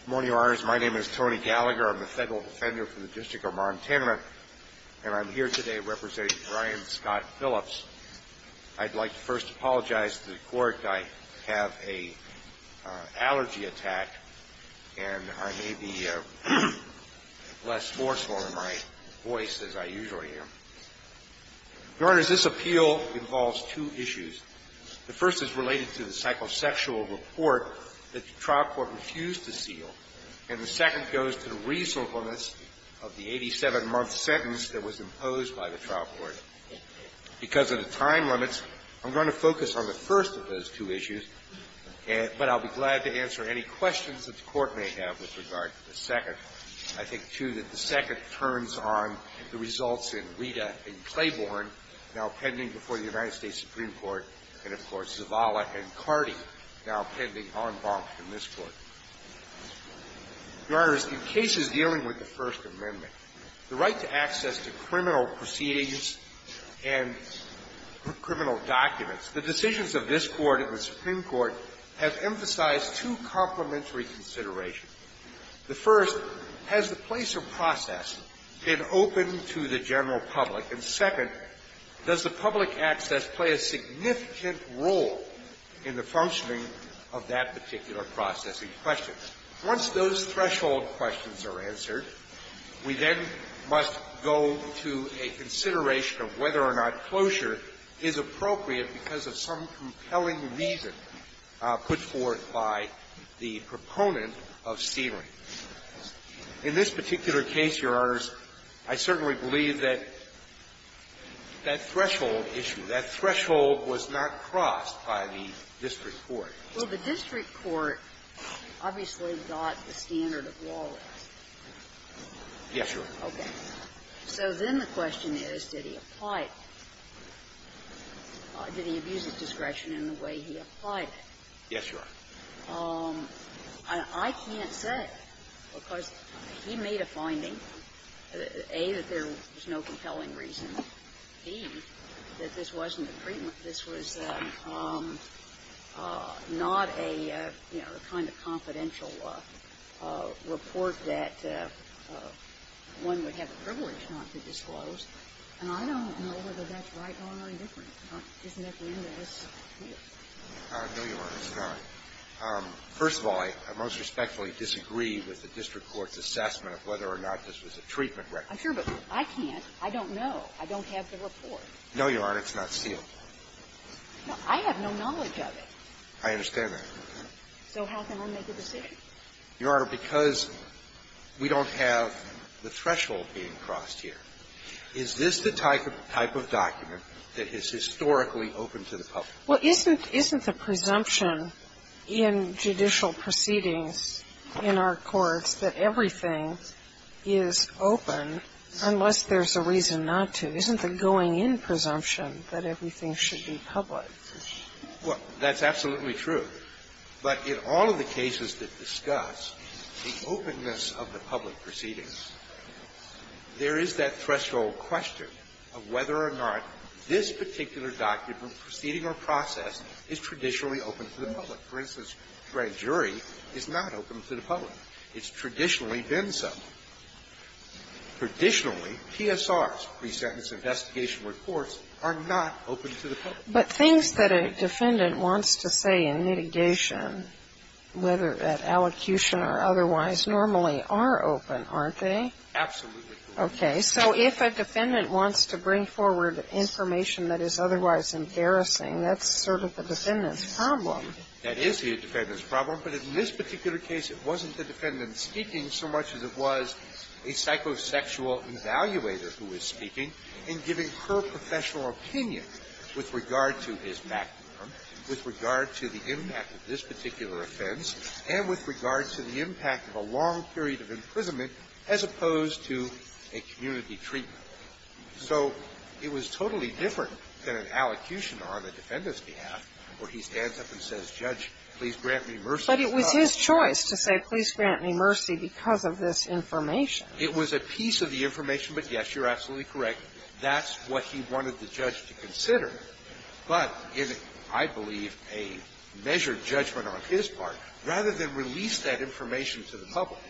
Good morning, Your Honors. My name is Tony Gallagher. I'm the Federal Defender for the District of Montana, and I'm here today representing Brian Scott Phillips. I'd like to first apologize to the Court. I have an allergy attack, and I may be less forceful in my voice as I usually am. Your Honors, this appeal involves two issues. The first is related to the psychosexual report that the trial court refused to seal, and the second goes to the reasonableness of the 87-month sentence that was imposed by the trial court. Because of the time limits, I'm going to focus on the first of those two issues, but I'll be glad to answer any questions that the Court may have with regard to the second. The second turns on the results in Rita and Claiborne, now pending before the United States Supreme Court, and, of course, Zavala and Cardi, now pending en banc in this Court. Your Honors, in cases dealing with the First Amendment, the right to access to criminal proceedings and criminal documents, the decisions of this Court and the Supreme Court have emphasized two complementary considerations. The first has the place of prosecution process in open to the general public. And second, does the public access play a significant role in the functioning of that particular process in question? Once those threshold questions are answered, we then must go to a consideration of whether or not closure is appropriate because of some compelling reason put forth by the proponent of sealing. In this particular case, Your Honors, I certainly believe that that threshold issue, that threshold was not crossed by the district court. Well, the district court obviously got the standard of lawless. Yes, Your Honor. Okay. So then the question is, did he apply it? Did he abuse his discretion Yes, Your Honor. I can't say because he made a finding, A, that there was no compelling reason, B, that this wasn't a treatment. This was not a, you know, a kind of confidential report that one would have the privilege not to disclose, and I don't know whether that's right or indifferent. Isn't that the end of this? No, Your Honor, it's not. First of all, I most respectfully disagree with the district court's assessment of whether or not this was a treatment record. I'm sure, but I can't. I don't know. I don't have the report. No, Your Honor, it's not sealed. I have no knowledge of it. I understand that. So how can I make a decision? Your Honor, because we don't have the threshold being crossed here, is this the type of document that is historically open to the public? Well, isn't the presumption in judicial proceedings in our courts that everything is open unless there's a reason not to? Isn't the going-in presumption that everything should be public? Well, that's absolutely true. But in all of the cases that discuss the openness of the public proceedings, there is that threshold question of whether or not this particular document, proceeding or process, is traditionally open to the public. For instance, a jury is not open to the public. It's traditionally been so. Traditionally, PSRs, pre-sentence investigation reports, are not open to the public. But things that a defendant wants to say in litigation, whether at allocution or otherwise, normally are open, aren't they? Absolutely. Okay. So if a defendant wants to bring forward information that is otherwise embarrassing, that's sort of the defendant's problem. That is the defendant's problem. But in this particular case, it wasn't the defendant speaking so much as it was a psychosexual evaluator who was speaking and giving her professional opinion with regard to his background, with regard to the impact of this particular offense, and with regard to the impact of a long period of imprisonment as opposed to a community treatment. So it was totally different than an allocution on a defendant's behalf where he stands up and says, Judge, please grant me mercy. But it was his choice to say, please grant me mercy because of this information. It was a piece of the information. But, yes, you're absolutely correct. That's what he wanted the judge to consider. But in, I believe, a measured judgment on his part, rather than release that information to the public,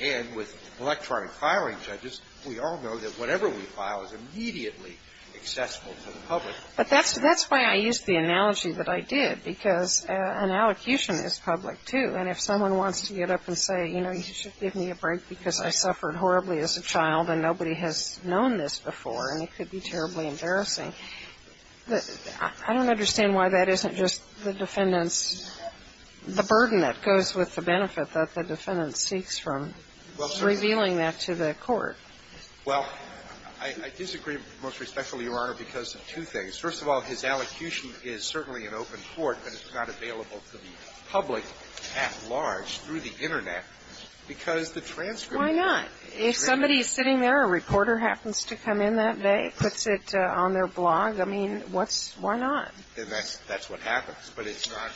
and with electronic filing judges, we all know that whatever we file is immediately accessible to the public. But that's why I used the analogy that I did, because an allocution is public too. And if someone wants to get up and say, you know, you should give me a break because I suffered horribly as a child and nobody has known this before and it could be terribly embarrassing, I don't understand why that isn't just the defendant's – the burden that goes with the benefit that the defendant seeks from revealing that to the court. Well, I disagree most respectfully, Your Honor, because of two things. First of all, his allocution is certainly an open court, but it's not available to the public at large through the Internet, because the transcripts Why not? If somebody is sitting there, a reporter happens to come in that day, puts it on their blog, I mean, what's – why not? Then that's what happens. But it's not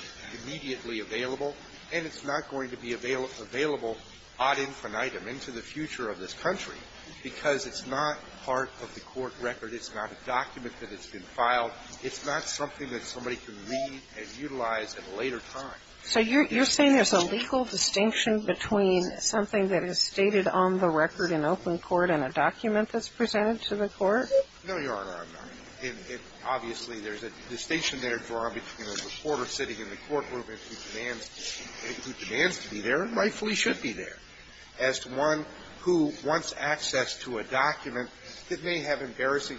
immediately available, and it's not going to be available ad infinitum into the future of this country, because it's not part of the court record. It's not a document that has been filed. It's not something that somebody can read and utilize at a later time. So you're saying there's a legal distinction between something that is stated on the record in open court and a document that's presented to the court? No, Your Honor, I'm not. Obviously, there's a distinction there drawn between a reporter sitting in the courtroom and who demands to be there and rightfully should be there, as to one who wants access to a document that may have embarrassing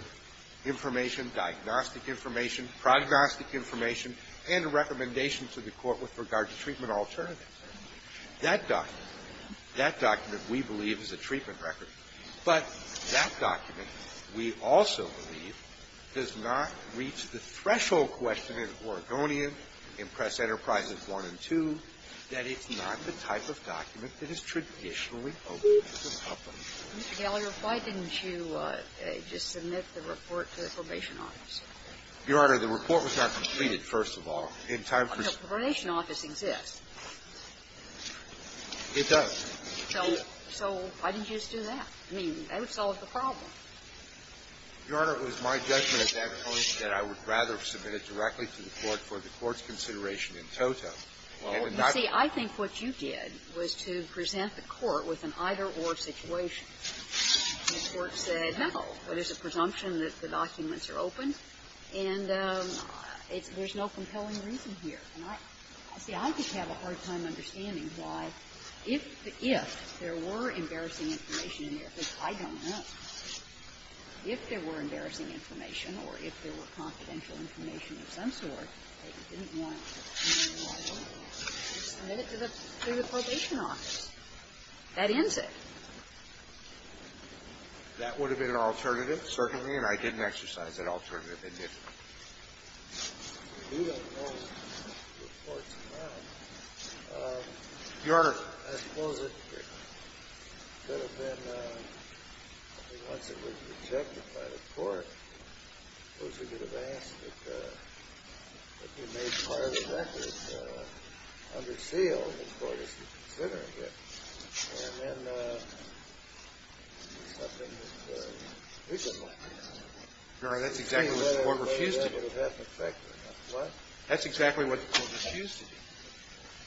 information, diagnostic information, prognostic information, and a recommendation to the court with regard to treatment alternatives. That document, that document, we believe, is a treatment record. But that document, we also believe, does not reach the threshold question in Oregonian in Press Enterprises I and II that it's not the type of document that is traditionally open to the public. Mr. Gallagher, why didn't you just submit the report to the probation office? Your Honor, the report was not completed, first of all. In time for the – The probation office exists. It does. So why didn't you just do that? I mean, that would solve the problem. Your Honor, it was my judgment at that point that I would rather submit it directly to the court for the court's consideration in toto. Well, you see, I think what you did was to present the court with an either-or situation. The court said, no, there's a presumption that the documents are open, and there's no compelling reason here. And I – see, I just have a hard time understanding why, if – if there were embarrassing information in there, because I don't know, if there were embarrassing information or if there were confidential information of some sort, that you didn't want to present it to the probation office. That ends it. That would have been an alternative, certainly, and I didn't exercise that alternative in this case. Your Honor, I suppose it could have been – I mean, once it was rejected by the court, I suppose we could have asked that we made part of the record under seal, and the court is considering it, and then there's nothing that we could have done. Your Honor, that's exactly what the court refused to do. That's exactly what the court refused to do.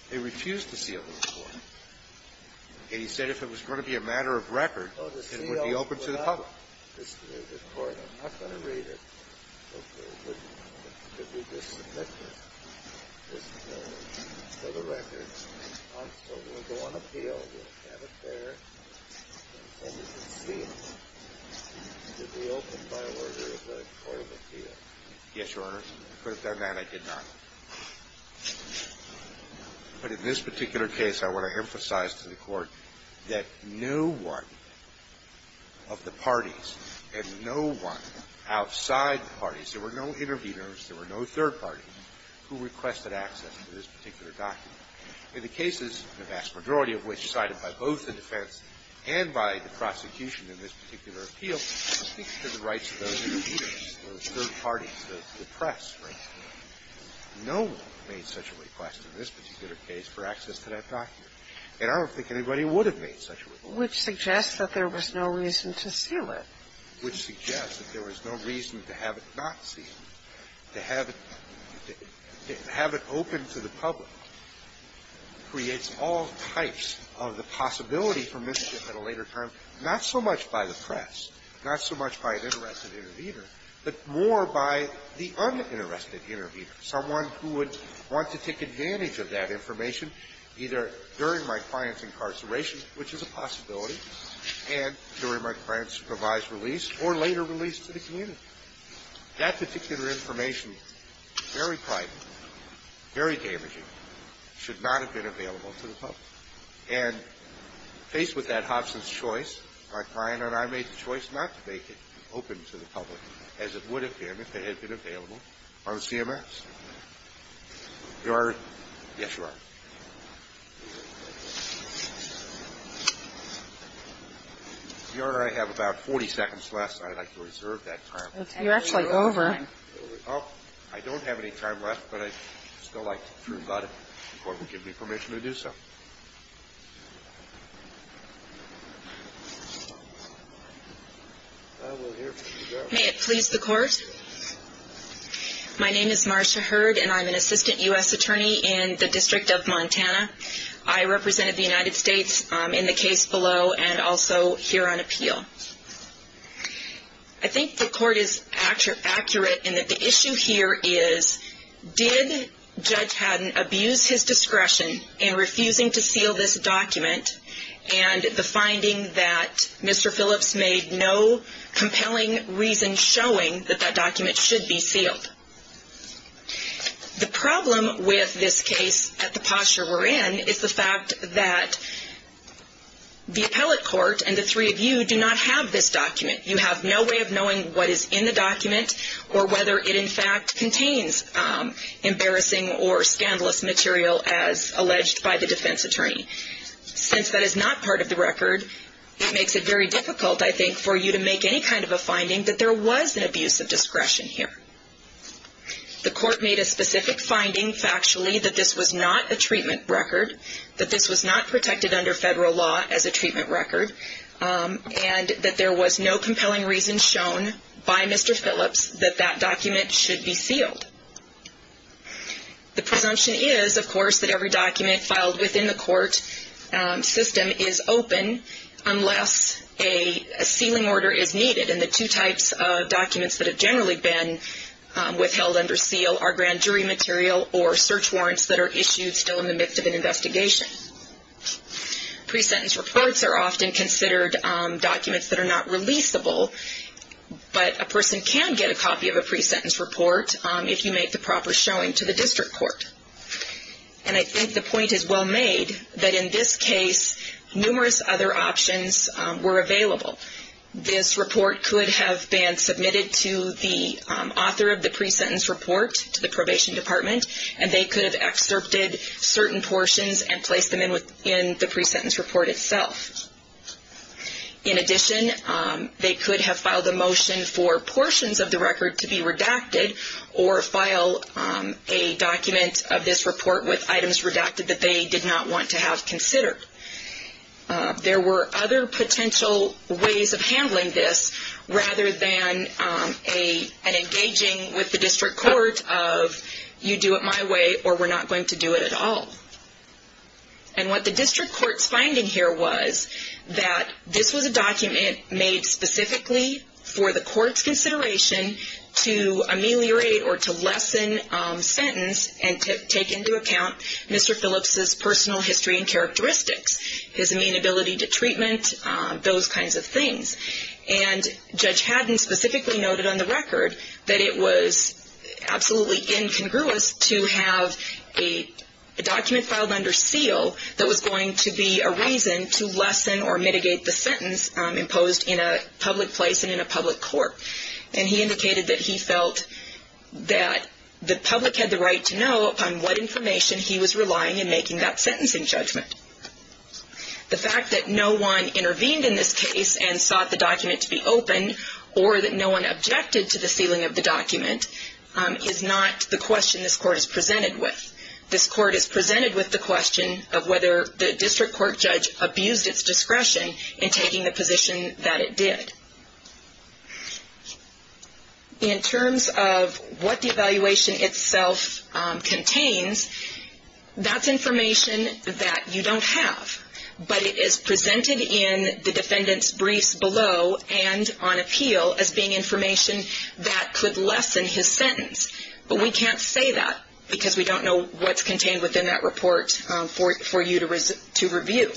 They refused to seal the report. And he said if it was going to be a matter of record, it would be open to the public. Yes, Your Honor, if I could have done that, I did not. But in this particular case, I want to emphasize to the court that no one of the parties and no one outside the parties, there were no interveners, there were no third parties, who requested access to this particular document. In the cases, the vast majority of which cited by both the defense and by the prosecution in this particular appeal, speaks to the rights of those interveners, those third parties, the press, right? No one made such a request in this particular case for access to that document. And I don't think anybody would have made such a request. Which suggests that there was no reason to seal it. Which suggests that there was no reason to have it not sealed. To have it open to the public creates all types of the possibility for mischief at a later time, not so much by the press, not so much by an interested intervener, but more by the uninterested intervener, someone who would want to take advantage of that information, either during my client's incarceration, which is a possibility, and during my client's revised release or later release to the community. That particular information, very private, very damaging, should not have been available to the public. And faced with that Hobson's choice, my client and I made the choice not to make it open to the public as it would have been if it had been available on CMS. Your Honor. Yes, Your Honor. Your Honor, I have about 40 seconds left, and I'd like to reserve that time. You're actually over. I don't have any time left, but I'd still like to think about it before you give May it please the Court. My name is Marcia Hurd, and I'm an assistant U.S. attorney in the District of Montana. I represented the United States in the case below and also here on appeal. I think the Court is accurate in that the issue here is, did Judge Haddon abuse his discretion in refusing to seal this document, and the finding that Mr. Phillips made no compelling reason showing that that document should be sealed. The problem with this case at the posture we're in is the fact that the appellate court and the three of you do not have this document. You have no way of knowing what is in the document or whether it, in fact, contains embarrassing or scandalous material as alleged by the defense attorney. Since that is not part of the record, it makes it very difficult, I think, for you to make any kind of a finding that there was an abuse of discretion here. The Court made a specific finding factually that this was not a treatment record, that this was not protected under federal law as a treatment record, and that there was no compelling reason shown by Mr. Phillips that that document should be sealed. The presumption is, of course, that every document filed within the court system is open unless a sealing order is needed, and the two types of documents that have generally been withheld under seal are grand jury material or search warrants that are issued still in the midst of an investigation. Pre-sentence reports are often considered documents that are not releasable, but a person can get a copy of a pre-sentence report if you make the proper showing to the district court. And I think the point is well made that in this case, numerous other options were available. This report could have been submitted to the author of the pre-sentence report to the Probation Department, and they could have excerpted certain portions and placed them in the pre-sentence report itself. In addition, they could have filed a motion for portions of the record to be redacted or file a document of this report with items redacted that they did not want to have considered. There were other potential ways of handling this rather than an engaging with the district court of you do it my way or we're not going to do it at all. And what the district court's finding here was that this was a document made specifically for the court's consideration to ameliorate or to lessen sentence and to take into account Mr. Phillips' personal history and characteristics, his amenability to treatment, those kinds of things. And Judge Haddon specifically noted on the record that it was absolutely incongruous to have a document filed under seal that was going to be a reason to lessen or mitigate the sentence imposed in a public place and in a public court. And he indicated that he felt that the public had the right to know upon what information he was relying in making that sentencing judgment. The fact that no one intervened in this case and sought the document to be open or that no one objected to the sealing of the document is not the question this court is presented with. This court is presented with the question of whether the district court judge abused its discretion in taking the position that it did. In terms of what the evaluation itself contains, that's information that you don't have. But it is presented in the defendant's briefs below and on appeal as being information that could lessen his sentence. But we can't say that because we don't know what's contained within that report for you to review.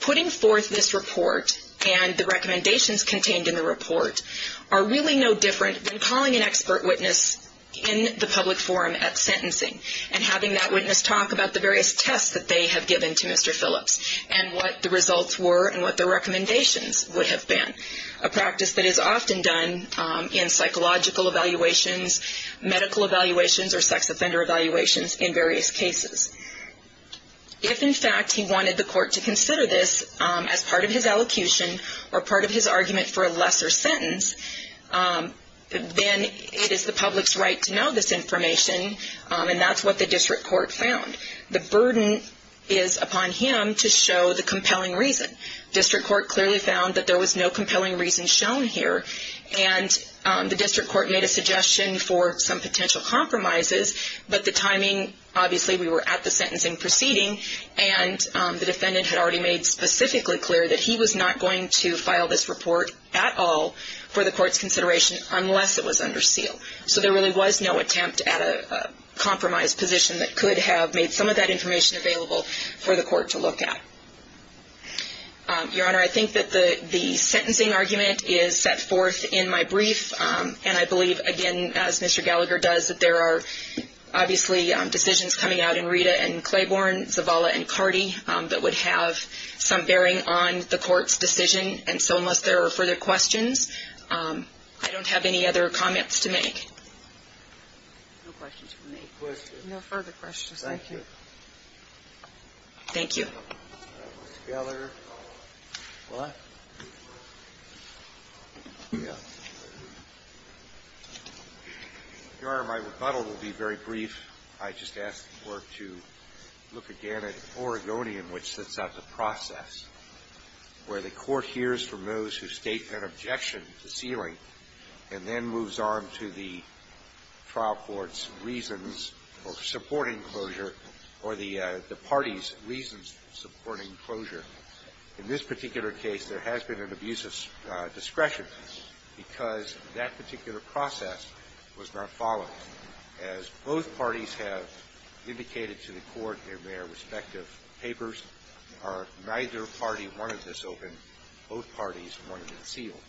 Putting forth this report and the recommendations contained in the report are really no different than calling an expert witness in the public forum at sentencing and having that witness talk about the various tests that they have given to Mr. Phillips and what the results were and what the recommendations would have been, a practice that is often done in psychological evaluations, medical evaluations or sex offender evaluations in various cases. If in fact he wanted the court to consider this as part of his elocution or part of his argument for a lesser sentence, then it is the public's right to know this information and that's what the district court found. The burden is upon him to show the compelling reason. District court clearly found that there was no compelling reason shown here and the district court made a suggestion for some potential compromises, but the timing, obviously we were at the sentencing proceeding and the defendant had already made specifically clear that he was not going to file this report at all for the court's discretion and that there was no attempt at a compromise position that could have made some of that information available for the court to look at. Your Honor, I think that the sentencing argument is set forth in my brief and I believe, again, as Mr. Gallagher does, that there are obviously decisions coming out in Rita and Claiborne, Zavala and Cardi that would have some bearing on the court's decision and so unless there are further questions, I don't have any other comments to make. No questions for me. No further questions. Thank you. Thank you. Your Honor, my rebuttal will be very brief. I just ask the Court to look again at Oregonian, which sets out the process where the court hears from those who state an objection to sealing and then moves on to the trial court's reasons for supporting closure or the party's reasons for supporting closure. In this particular case, there has been an abuse of discretion because that particular process was not followed. As both parties have indicated to the court in their respective papers, neither party wanted this open. Both parties wanted it sealed.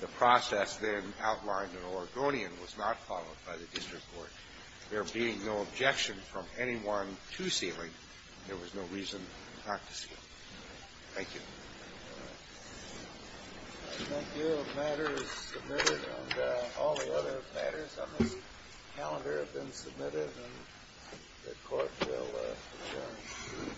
The process then outlined in Oregonian was not followed by the district court. There being no objection from anyone to sealing, there was no reason not to seal. Thank you. Thank you. The matter is submitted and all the other matters on this calendar have been submitted and the Court will adjourn.